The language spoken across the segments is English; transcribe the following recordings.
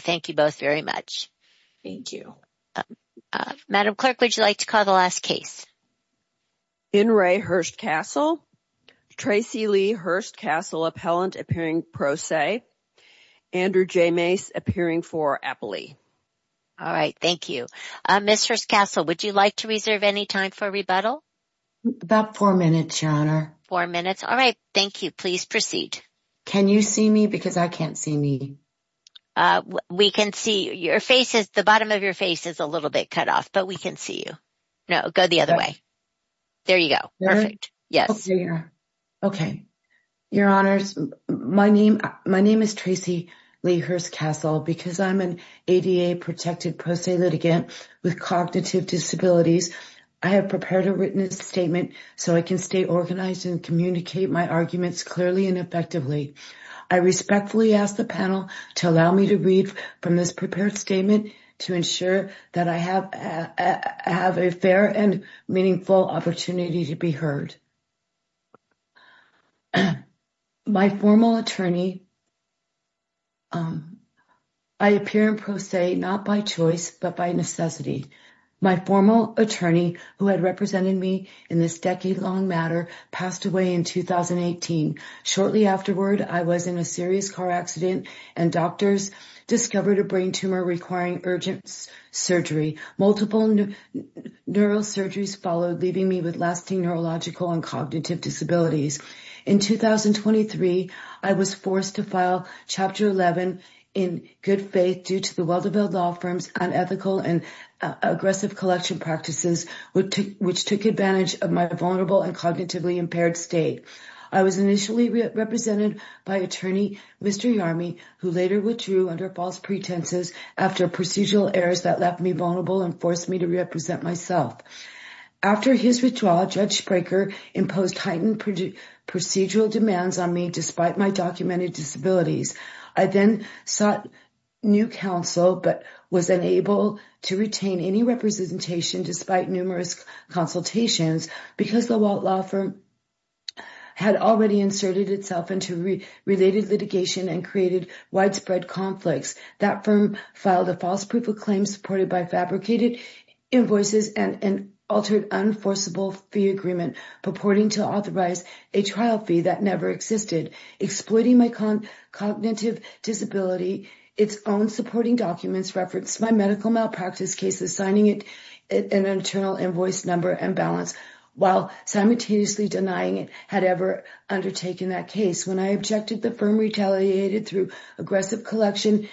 Thank you both very much. Thank you. Madam Clerk, would you like to call the last case? In re Hurst-Castl. Tracy Lee, Hurst-Castl Appellant, appearing pro se. Andrew J. Mace, appearing for Appley. All right, thank you. Miss Hurst-Castl, would you like to reserve any time for rebuttal? About four minutes, Your Honor. Four minutes? All right, thank you. Please proceed. Can you see me? Because I can't see me. We can see your face. The bottom of your face is a little bit cut off, but we can see you. No, go the other way. There you go. Perfect. Yes. Okay. Your Honor, my name is Tracy Lee Hurst-Castl. Because I'm an ADA protected pro se litigant with cognitive disabilities, I have prepared a written statement so I can stay organized and communicate my arguments clearly and effectively. I respectfully ask the panel to allow me to read from this prepared statement to ensure that I have a fair and meaningful opportunity to be heard. My formal attorney, I appear in pro se not by choice, but by necessity. My formal attorney, who had represented me in this decade-long matter, passed away in 2018. Shortly afterward, I was in a serious car accident and doctors discovered a brain tumor requiring urgent surgery. Multiple neurosurgeries followed, leaving me with lasting neurological and cognitive disabilities. In 2023, I was forced to file Chapter 11 in good faith due to the aggressive collection practices, which took advantage of my vulnerable and cognitively impaired state. I was initially represented by attorney Mr. Yarmy, who later withdrew under false pretenses after procedural errors that left me vulnerable and forced me to represent myself. After his withdrawal, Judge Brekker imposed heightened procedural demands on me despite my documented disabilities. I then sought new counsel, but was unable to retain any representation despite numerous consultations because the Walt Law Firm had already inserted itself into related litigation and created widespread conflicts. That firm filed a false proof of claim supported by fabricated invoices and an altered unforceable fee agreement purporting to authorize a trial fee that never existed, exploiting my cognitive disability. Its own supporting documents referenced my medical malpractice cases, signing an internal invoice number and balance while simultaneously denying it had ever undertaken that case. When I objected, the firm retaliated through aggressive collection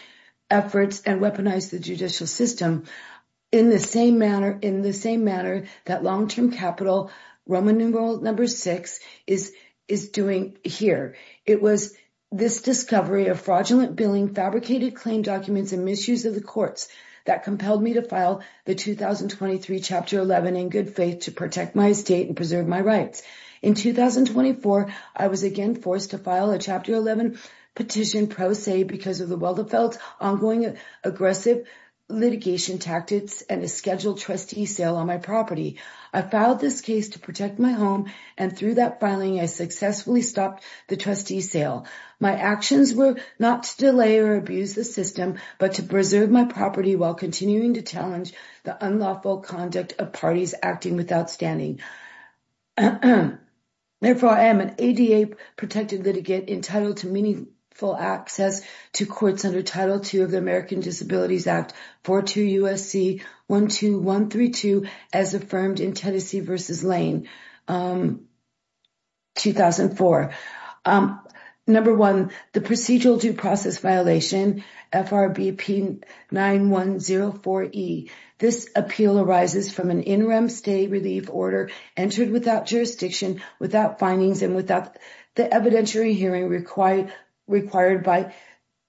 efforts and weaponized the judicial system in the same manner that long-term capital Roman numeral number six is doing here. It was this discovery of fraudulent billing, fabricated claim documents and misuse of the courts that compelled me to file the 2023 Chapter 11 in good faith to protect my estate and preserve my rights. In 2024, I was again forced to file a Chapter 11 petition pro se because of the well- and a scheduled trustee sale on my property. I filed this case to protect my home and through that filing, I successfully stopped the trustee sale. My actions were not to delay or abuse the system, but to preserve my property while continuing to challenge the unlawful conduct of parties acting without standing. Therefore, I am an ADA protected litigant entitled to meaningful access to courts under Title II of the American Disabilities Act 42 U.S.C. 12132 as affirmed in Tennessee v. Lane 2004. Number one, the procedural due process violation FRB P9104E. This appeal arises from an interim state relief order entered without jurisdiction, without findings and without the evidentiary hearing required by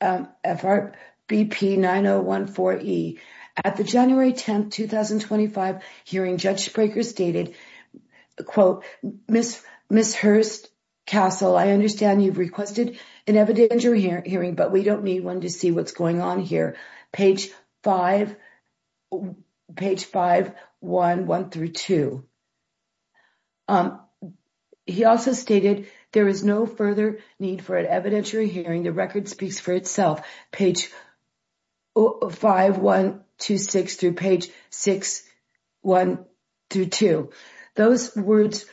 FRB P9014E. At the January 10th, 2025 hearing, Judge Brekker stated, quote, Ms. Hurst-Castle, I understand you've requested an evidentiary hearing, but we wanted to see what's going on here. Page 5-1-1-2. He also stated, there is no further need for an evidentiary hearing. The record speaks for itself. Page 5-1-2-6 through page 6-1-2-2. Those words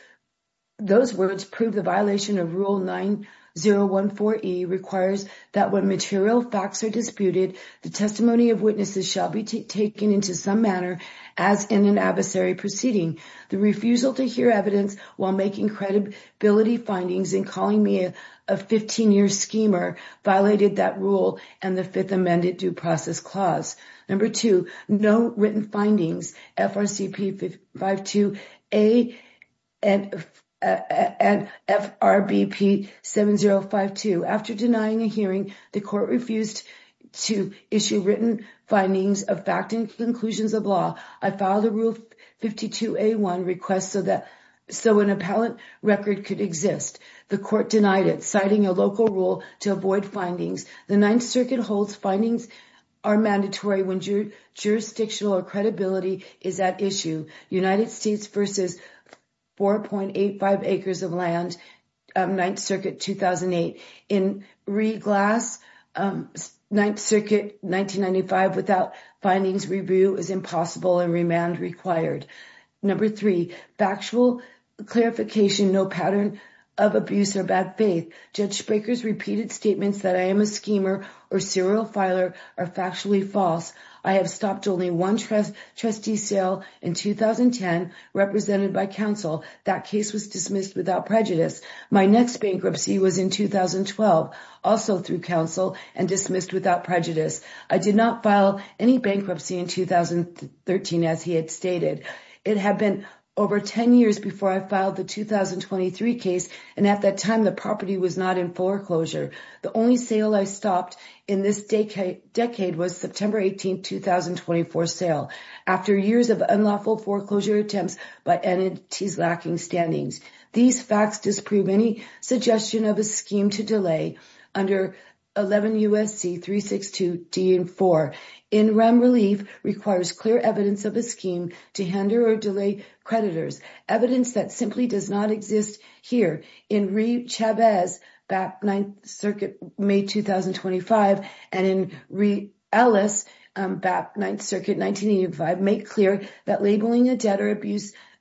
those words prove the violation of Rule 9014E requires that when material facts are disputed, the testimony of witnesses shall be taken into some manner as in an adversary proceeding. The refusal to hear evidence while making credibility findings and calling me a 15-year schemer violated that rule and the Fifth Amended Due Process Clause. Number two, no written findings FRCP 52A and FRB P7052. After denying a hearing, the court refused to issue written findings of fact and conclusions of law. I filed a Rule 52A1 request so that so an appellate record could exist. The Ninth Circuit holds findings are mandatory when jurisdictional or credibility is at issue. United States versus 4.85 acres of land, Ninth Circuit 2008. In re-glass, Ninth Circuit 1995 without findings review is impossible and remand required. Number three, factual clarification, no pattern of abuse or bad faith. Judge Spraker's repeated statements that I am a schemer or serial filer are factually false. I have stopped only one trustee sale in 2010 represented by counsel. That case was dismissed without prejudice. My next bankruptcy was in 2012 also through counsel and dismissed without prejudice. I did not file any bankruptcy in 2013 as he had stated. It had been over 10 years before I filed the 2023 case and at that time, the property was not in foreclosure. The only sale I stopped in this decade was September 18th, 2024 sale. After years of unlawful foreclosure attempts by entities lacking standings, these facts disprove any suggestion of a scheme to delay under 11 U.S.C. 362 D and 4. In rem relief requires clear evidence of a scheme to hinder or delay creditors. Evidence that simply does not exist here in re-Chavez back Ninth Circuit May 2025 and in re-Ellis back Ninth Circuit 1985 make clear that labeling a debtor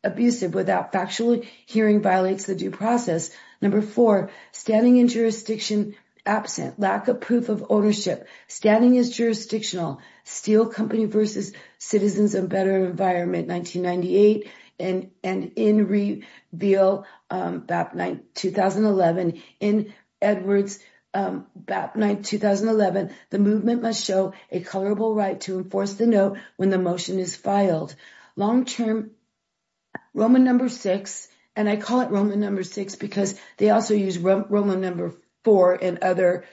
abusive without factual hearing violates the due process. Number four, standing in jurisdiction absent, lack of proof of ownership, standing is jurisdictional, steel company versus citizens of better environment 1998 and and in reveal BAP 9, 2011 in Edwards BAP 9, 2011 the movement must show a colorable right to enforce the note when the motion is filed. Long-term Roman number six, and I call it Roman number six because they also use Roman number four in other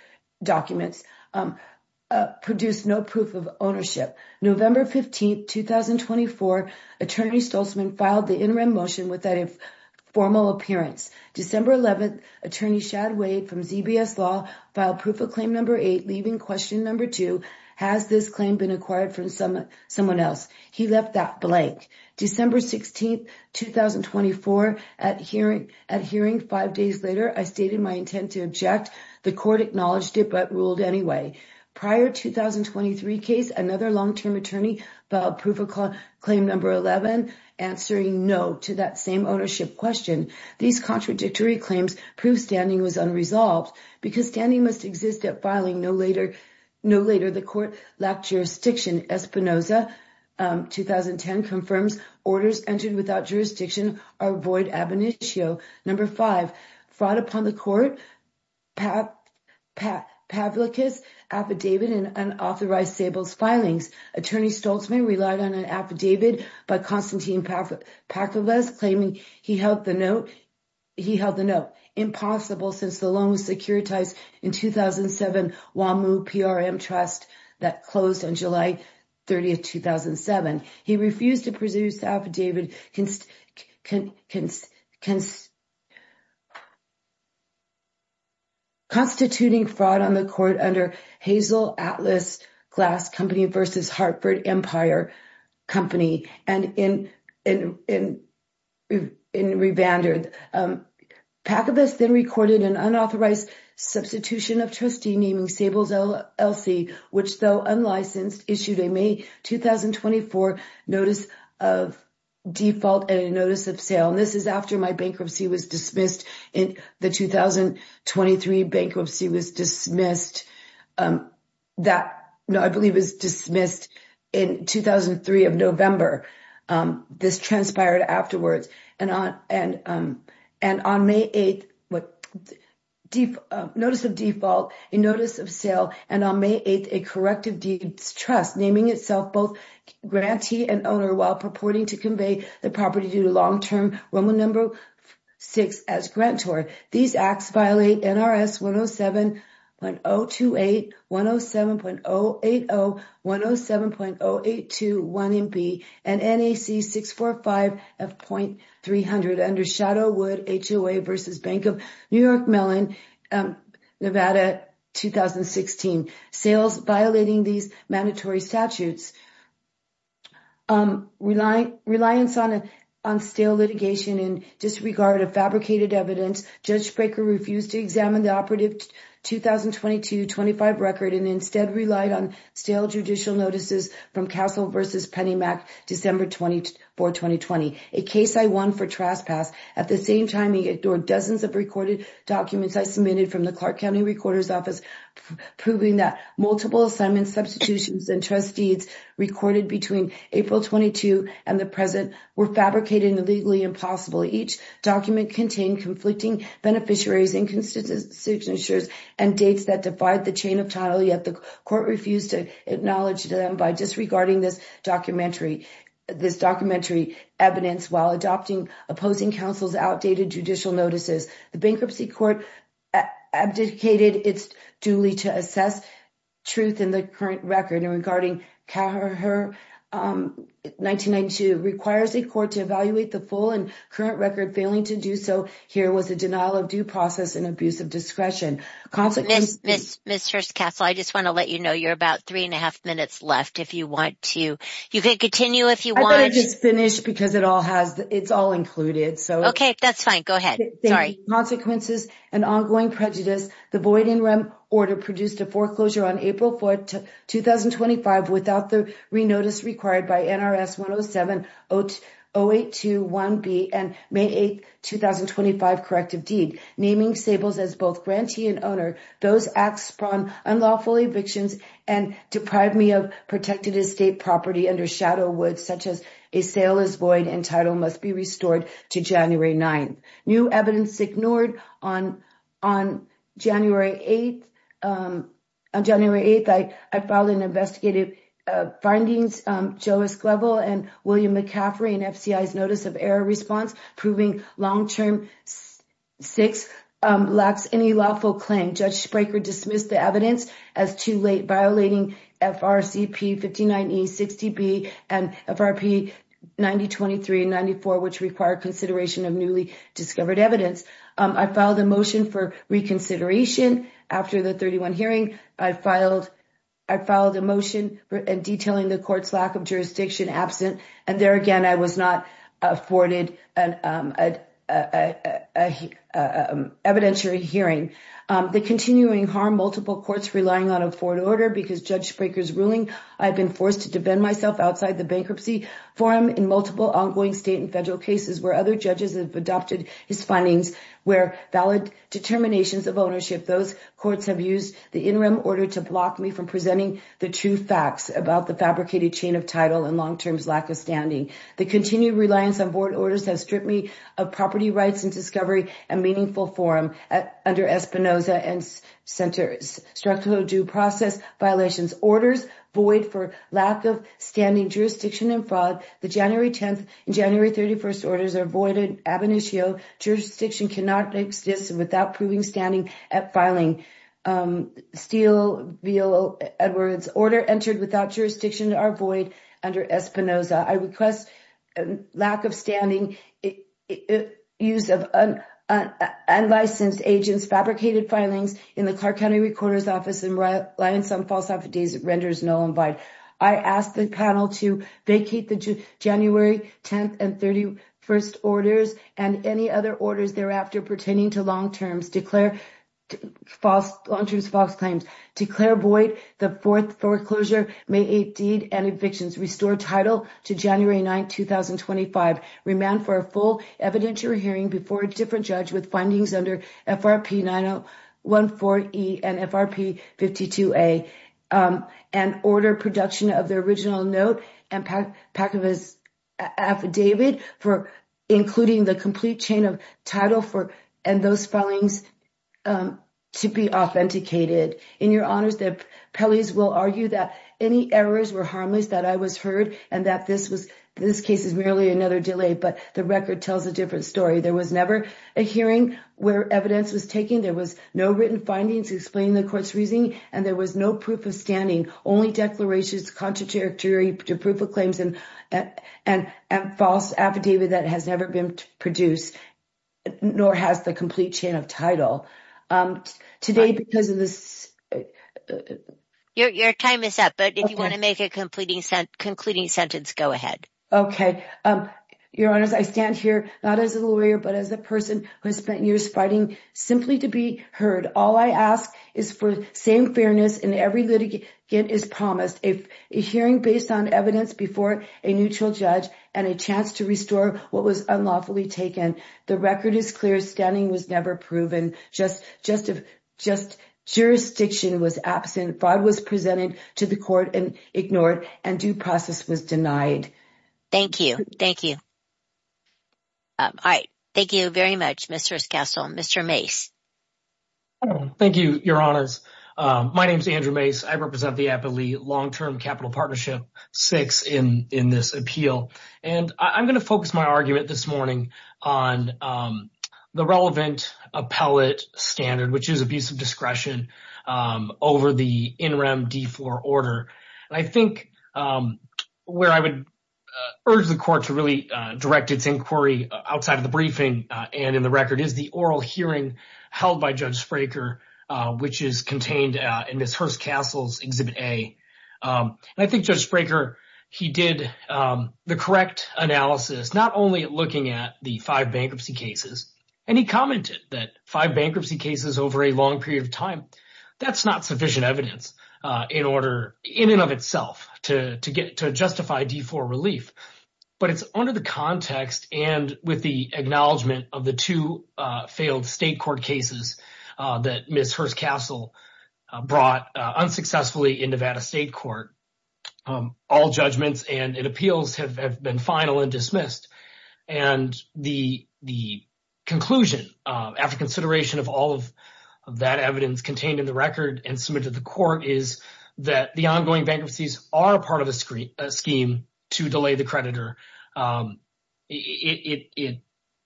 documents, produce no proof of ownership. November 15th, 2024, attorney Stoltzman filed the interim motion without a formal appearance. December 11th, attorney Shad Wade from ZBS law filed proof of claim number eight, leaving question number two, has this claim been acquired from someone else? He left that blank. December 16th, 2024, at hearing five days later, I stated my intent to object. The court acknowledged it but ruled anyway. Prior 2023 case, another long-term attorney filed proof of claim number 11, answering no to that same ownership question. These contradictory claims prove standing was unresolved because standing must exist at filing. No later the court lacked jurisdiction. Espinoza 2010 confirms orders entered without jurisdiction are void ab initio. Number five, fraud upon the court, Pavlikas affidavit and unauthorized stables filings. Attorney Stoltzman relied on an affidavit by Constantine Pakovas claiming he held the note. He held the note. Impossible since the loan was securitized in 2007, WAMU PRM Trust that closed on July 30th, 2007. He refused to pursue affidavit constituting fraud on the court under Hazel Atlas Glass Company versus Hartford Empire Company and in revandered. Pakovas then recorded an unauthorized substitution of trustee naming stables LLC, which though unlicensed issued a May 2024 notice of default and a notice of sale. And this is after my bankruptcy was dismissed in the 2023 bankruptcy was dismissed. Um, that no, I believe is dismissed in 2003 of November. Um, this transpired afterwards and on and, um, and on May 8th, what deep notice of default in notice of sale and on May 8th, a corrective deeds trust naming itself both grantee and owner while purporting to convey the property due to long-term Roman number six as grantor. These acts violate NRS 107.028, 107.080, 107.082, 1MB and NAC 645F.300 under Shadow Wood HOA versus Bank of New York Mellon, Nevada, 2016. Sales violating these mandatory statutes, um, relying, reliance on a, on stale litigation in disregard of fabricated evidence. Judge Baker refused to examine the operative 2022-25 record and instead relied on stale judicial notices from Castle versus Penny Mac, December 24, 2020. A case I won for trespass. At the same time, he ignored dozens of recorded documents I submitted from the Clark County Recorder's Office, proving that multiple assignment substitutions and trust deeds recorded between April 22 and the present were fabricated and legally impossible. Each document contained conflicting beneficiaries and constituent signatures and dates that divide the chain of title. Yet the court refused to acknowledge them by disregarding this documentary, this documentary evidence while adopting opposing counsel's outdated judicial notices. The Bankruptcy Court abdicated its duly to assess truth in the current record and regarding her, um, 1992 requires a court to evaluate the full and current record failing to do so. Here was a denial of due process and abuse of discretion. Consequences. Ms. Hirst-Castle, I just want to let you know you're about three and a half minutes left if you want to, you can continue if you want. I thought I'd just finish because it all has, it's all included, so. Okay, that's fine, go ahead. Sorry. Consequences and ongoing prejudice. The void in REM order produced a foreclosure on April 4, 2025 without the re-notice required by NRS 107-0821B and May 8, 2025 corrective deed, naming Sables as both grantee and owner. Those acts spawned unlawful evictions and deprived me of protected estate property under shadow woods, such as a sale is void and title must be restored to January 9th. New evidence ignored on, on January 8th, um, on January 8th, I, I filed an investigative, uh, findings, um, Joe Esquivel and William McCaffrey and FCI's notice of error response proving long-term six, um, lacks any lawful claim. Judge Spraker dismissed the evidence as too late, violating FRCP 59E, 60B and FRP 9023 and 94, which require consideration of newly discovered evidence. Um, I filed a motion for reconsideration after the 31 hearing. I filed, I filed a motion detailing the court's lack of jurisdiction absent. And there again, I was not afforded an, um, uh, uh, uh, uh, um, evidentiary hearing. Um, the continuing harm multiple courts relying on a forward order because Judge Spraker's ruling, I've been forced to defend myself outside the bankruptcy forum in multiple ongoing state and federal cases where other judges have adopted his findings, where valid determinations of ownership, those courts have used the interim order to block me from presenting the true facts about the fabricated chain of title and long-term lack of standing. The continued reliance on board orders has stripped me of property rights and discovery and meaningful forum at, under Espinoza and centers. Structural due process violations, orders void for lack of standing jurisdiction and fraud. The January 10th and January 31st orders are voided ab initio. Jurisdiction cannot exist without proving standing at filing, um, Steele v. Edwards. Order entered without jurisdiction are void under Espinoza. I request lack of standing, use of unlicensed agents, fabricated filings in the Clark County recorder's office and reliance on false affidavits renders null and void. I ask the panel to vacate the January 10th and 31st orders and any other orders thereafter pertaining to long-term false claims. Declare void the fourth foreclosure, May 8th deed and evictions. Restore title to January 9th, 2025. Remand for a full evidentiary hearing before a different judge with findings under FRP 9014E and FRP 52A, um, and order production of the original note and pack of his affidavit for including the complete chain of title for, and those filings, um, to be authenticated. In your honors, the appellees will argue that any errors were that I was heard and that this was, this case is merely another delay, but the record tells a different story. There was never a hearing where evidence was taken. There was no written findings explaining the court's reasoning, and there was no proof of standing, only declarations, contrary to proof of claims and, and, and false affidavit that has never been produced, nor has the complete chain of title. Um, today, because of this, uh, your, your time is up, but if you want to make a completing sentence, concluding sentence, go ahead. Okay. Um, your honors, I stand here, not as a lawyer, but as a person who has spent years fighting simply to be heard. All I ask is for same fairness in every litigant is promised. If a hearing based on evidence before a neutral judge and a chance to restore what was unlawfully taken, the record is clear. Standing was never proven. Just, just, just jurisdiction was absent. Five was presented to the court and ignored and due process was denied. Thank you. Thank you. All right. Thank you very much, Mr. Scassel. Mr. Mase. Thank you, your honors. Um, my name is Andrew Mase. I represent the Appellee Long-Term Capital Six in, in this appeal. And I'm going to focus my argument this morning on, um, the relevant appellate standard, which is abuse of discretion, um, over the in-rem D4 order. And I think, um, where I would, uh, urge the court to really, uh, direct its inquiry outside of the briefing, uh, and in the record is the oral hearing held by Judge Spraker, uh, which is contained, uh, in Exhibit A. Um, and I think Judge Spraker, he did, um, the correct analysis, not only looking at the five bankruptcy cases, and he commented that five bankruptcy cases over a long period of time, that's not sufficient evidence, uh, in order in and of itself to, to get, to justify D4 relief, but it's under the context and with the acknowledgement of the two, uh, failed state court cases, uh, that Ms. Hurst-Castle, uh, brought, uh, unsuccessfully in Nevada State Court, um, all judgments and appeals have, have been final and dismissed. And the, the conclusion, uh, after consideration of all of that evidence contained in the record and submitted to the court is that the ongoing bankruptcies are a part of a scheme to delay the creditor. Um, it, it, it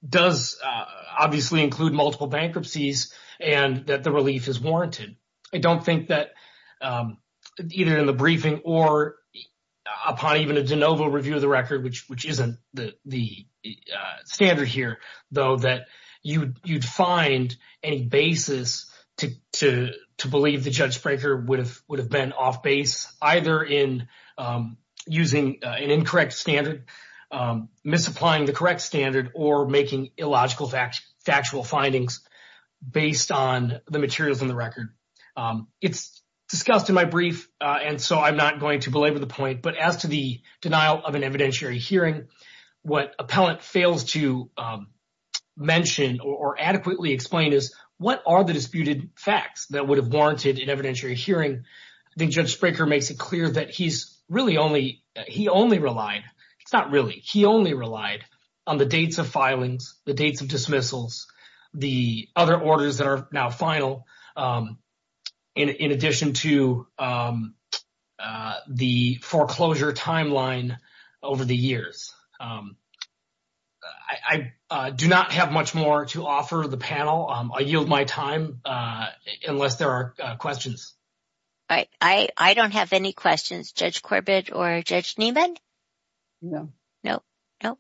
does, uh, obviously include multiple bankruptcies and that the relief is warranted. I don't think that, um, either in the briefing or upon even a de novo review of the record, which, which isn't the, the, uh, standard here, though, that you, you'd find any basis to, to, to believe that Judge Spraker would have, would have been off base, either in, um, using, uh, an incorrect standard, um, misapplying the correct standard or making illogical factual findings based on the materials in the record. Um, it's discussed in my brief, uh, and so I'm not going to belabor the point, but as to the denial of an evidentiary hearing, what appellant fails to, um, mention or adequately explain is what are the disputed facts that would have warranted an evidentiary hearing? I think Judge Spraker makes it clear that he's really only, he only relied, it's not really, he only relied on the dates of filings, the dates of dismissals, the other orders that are now final, um, in, in addition to, um, uh, the foreclosure timeline over the years. Um, I, I, uh, do not have much more to offer the panel. Um, I yield my time, uh, unless there are, uh, questions. All right. I, I don't have any questions. Judge Corbett or Judge Nieman? No. No. No.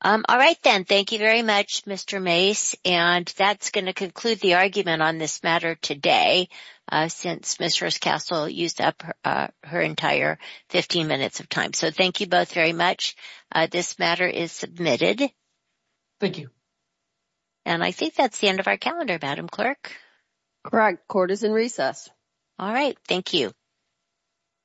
Um, all right then. Thank you very much, Mr. Mace, and that's going to conclude the argument on this matter today, uh, since Ms. Hurst-Castle used up, uh, her entire 15 minutes of time. So thank you both very much. Uh, this matter is submitted. Thank you. And I think that's the end of our calendar, Madam Clerk. Court is in recess. All right. Thank you.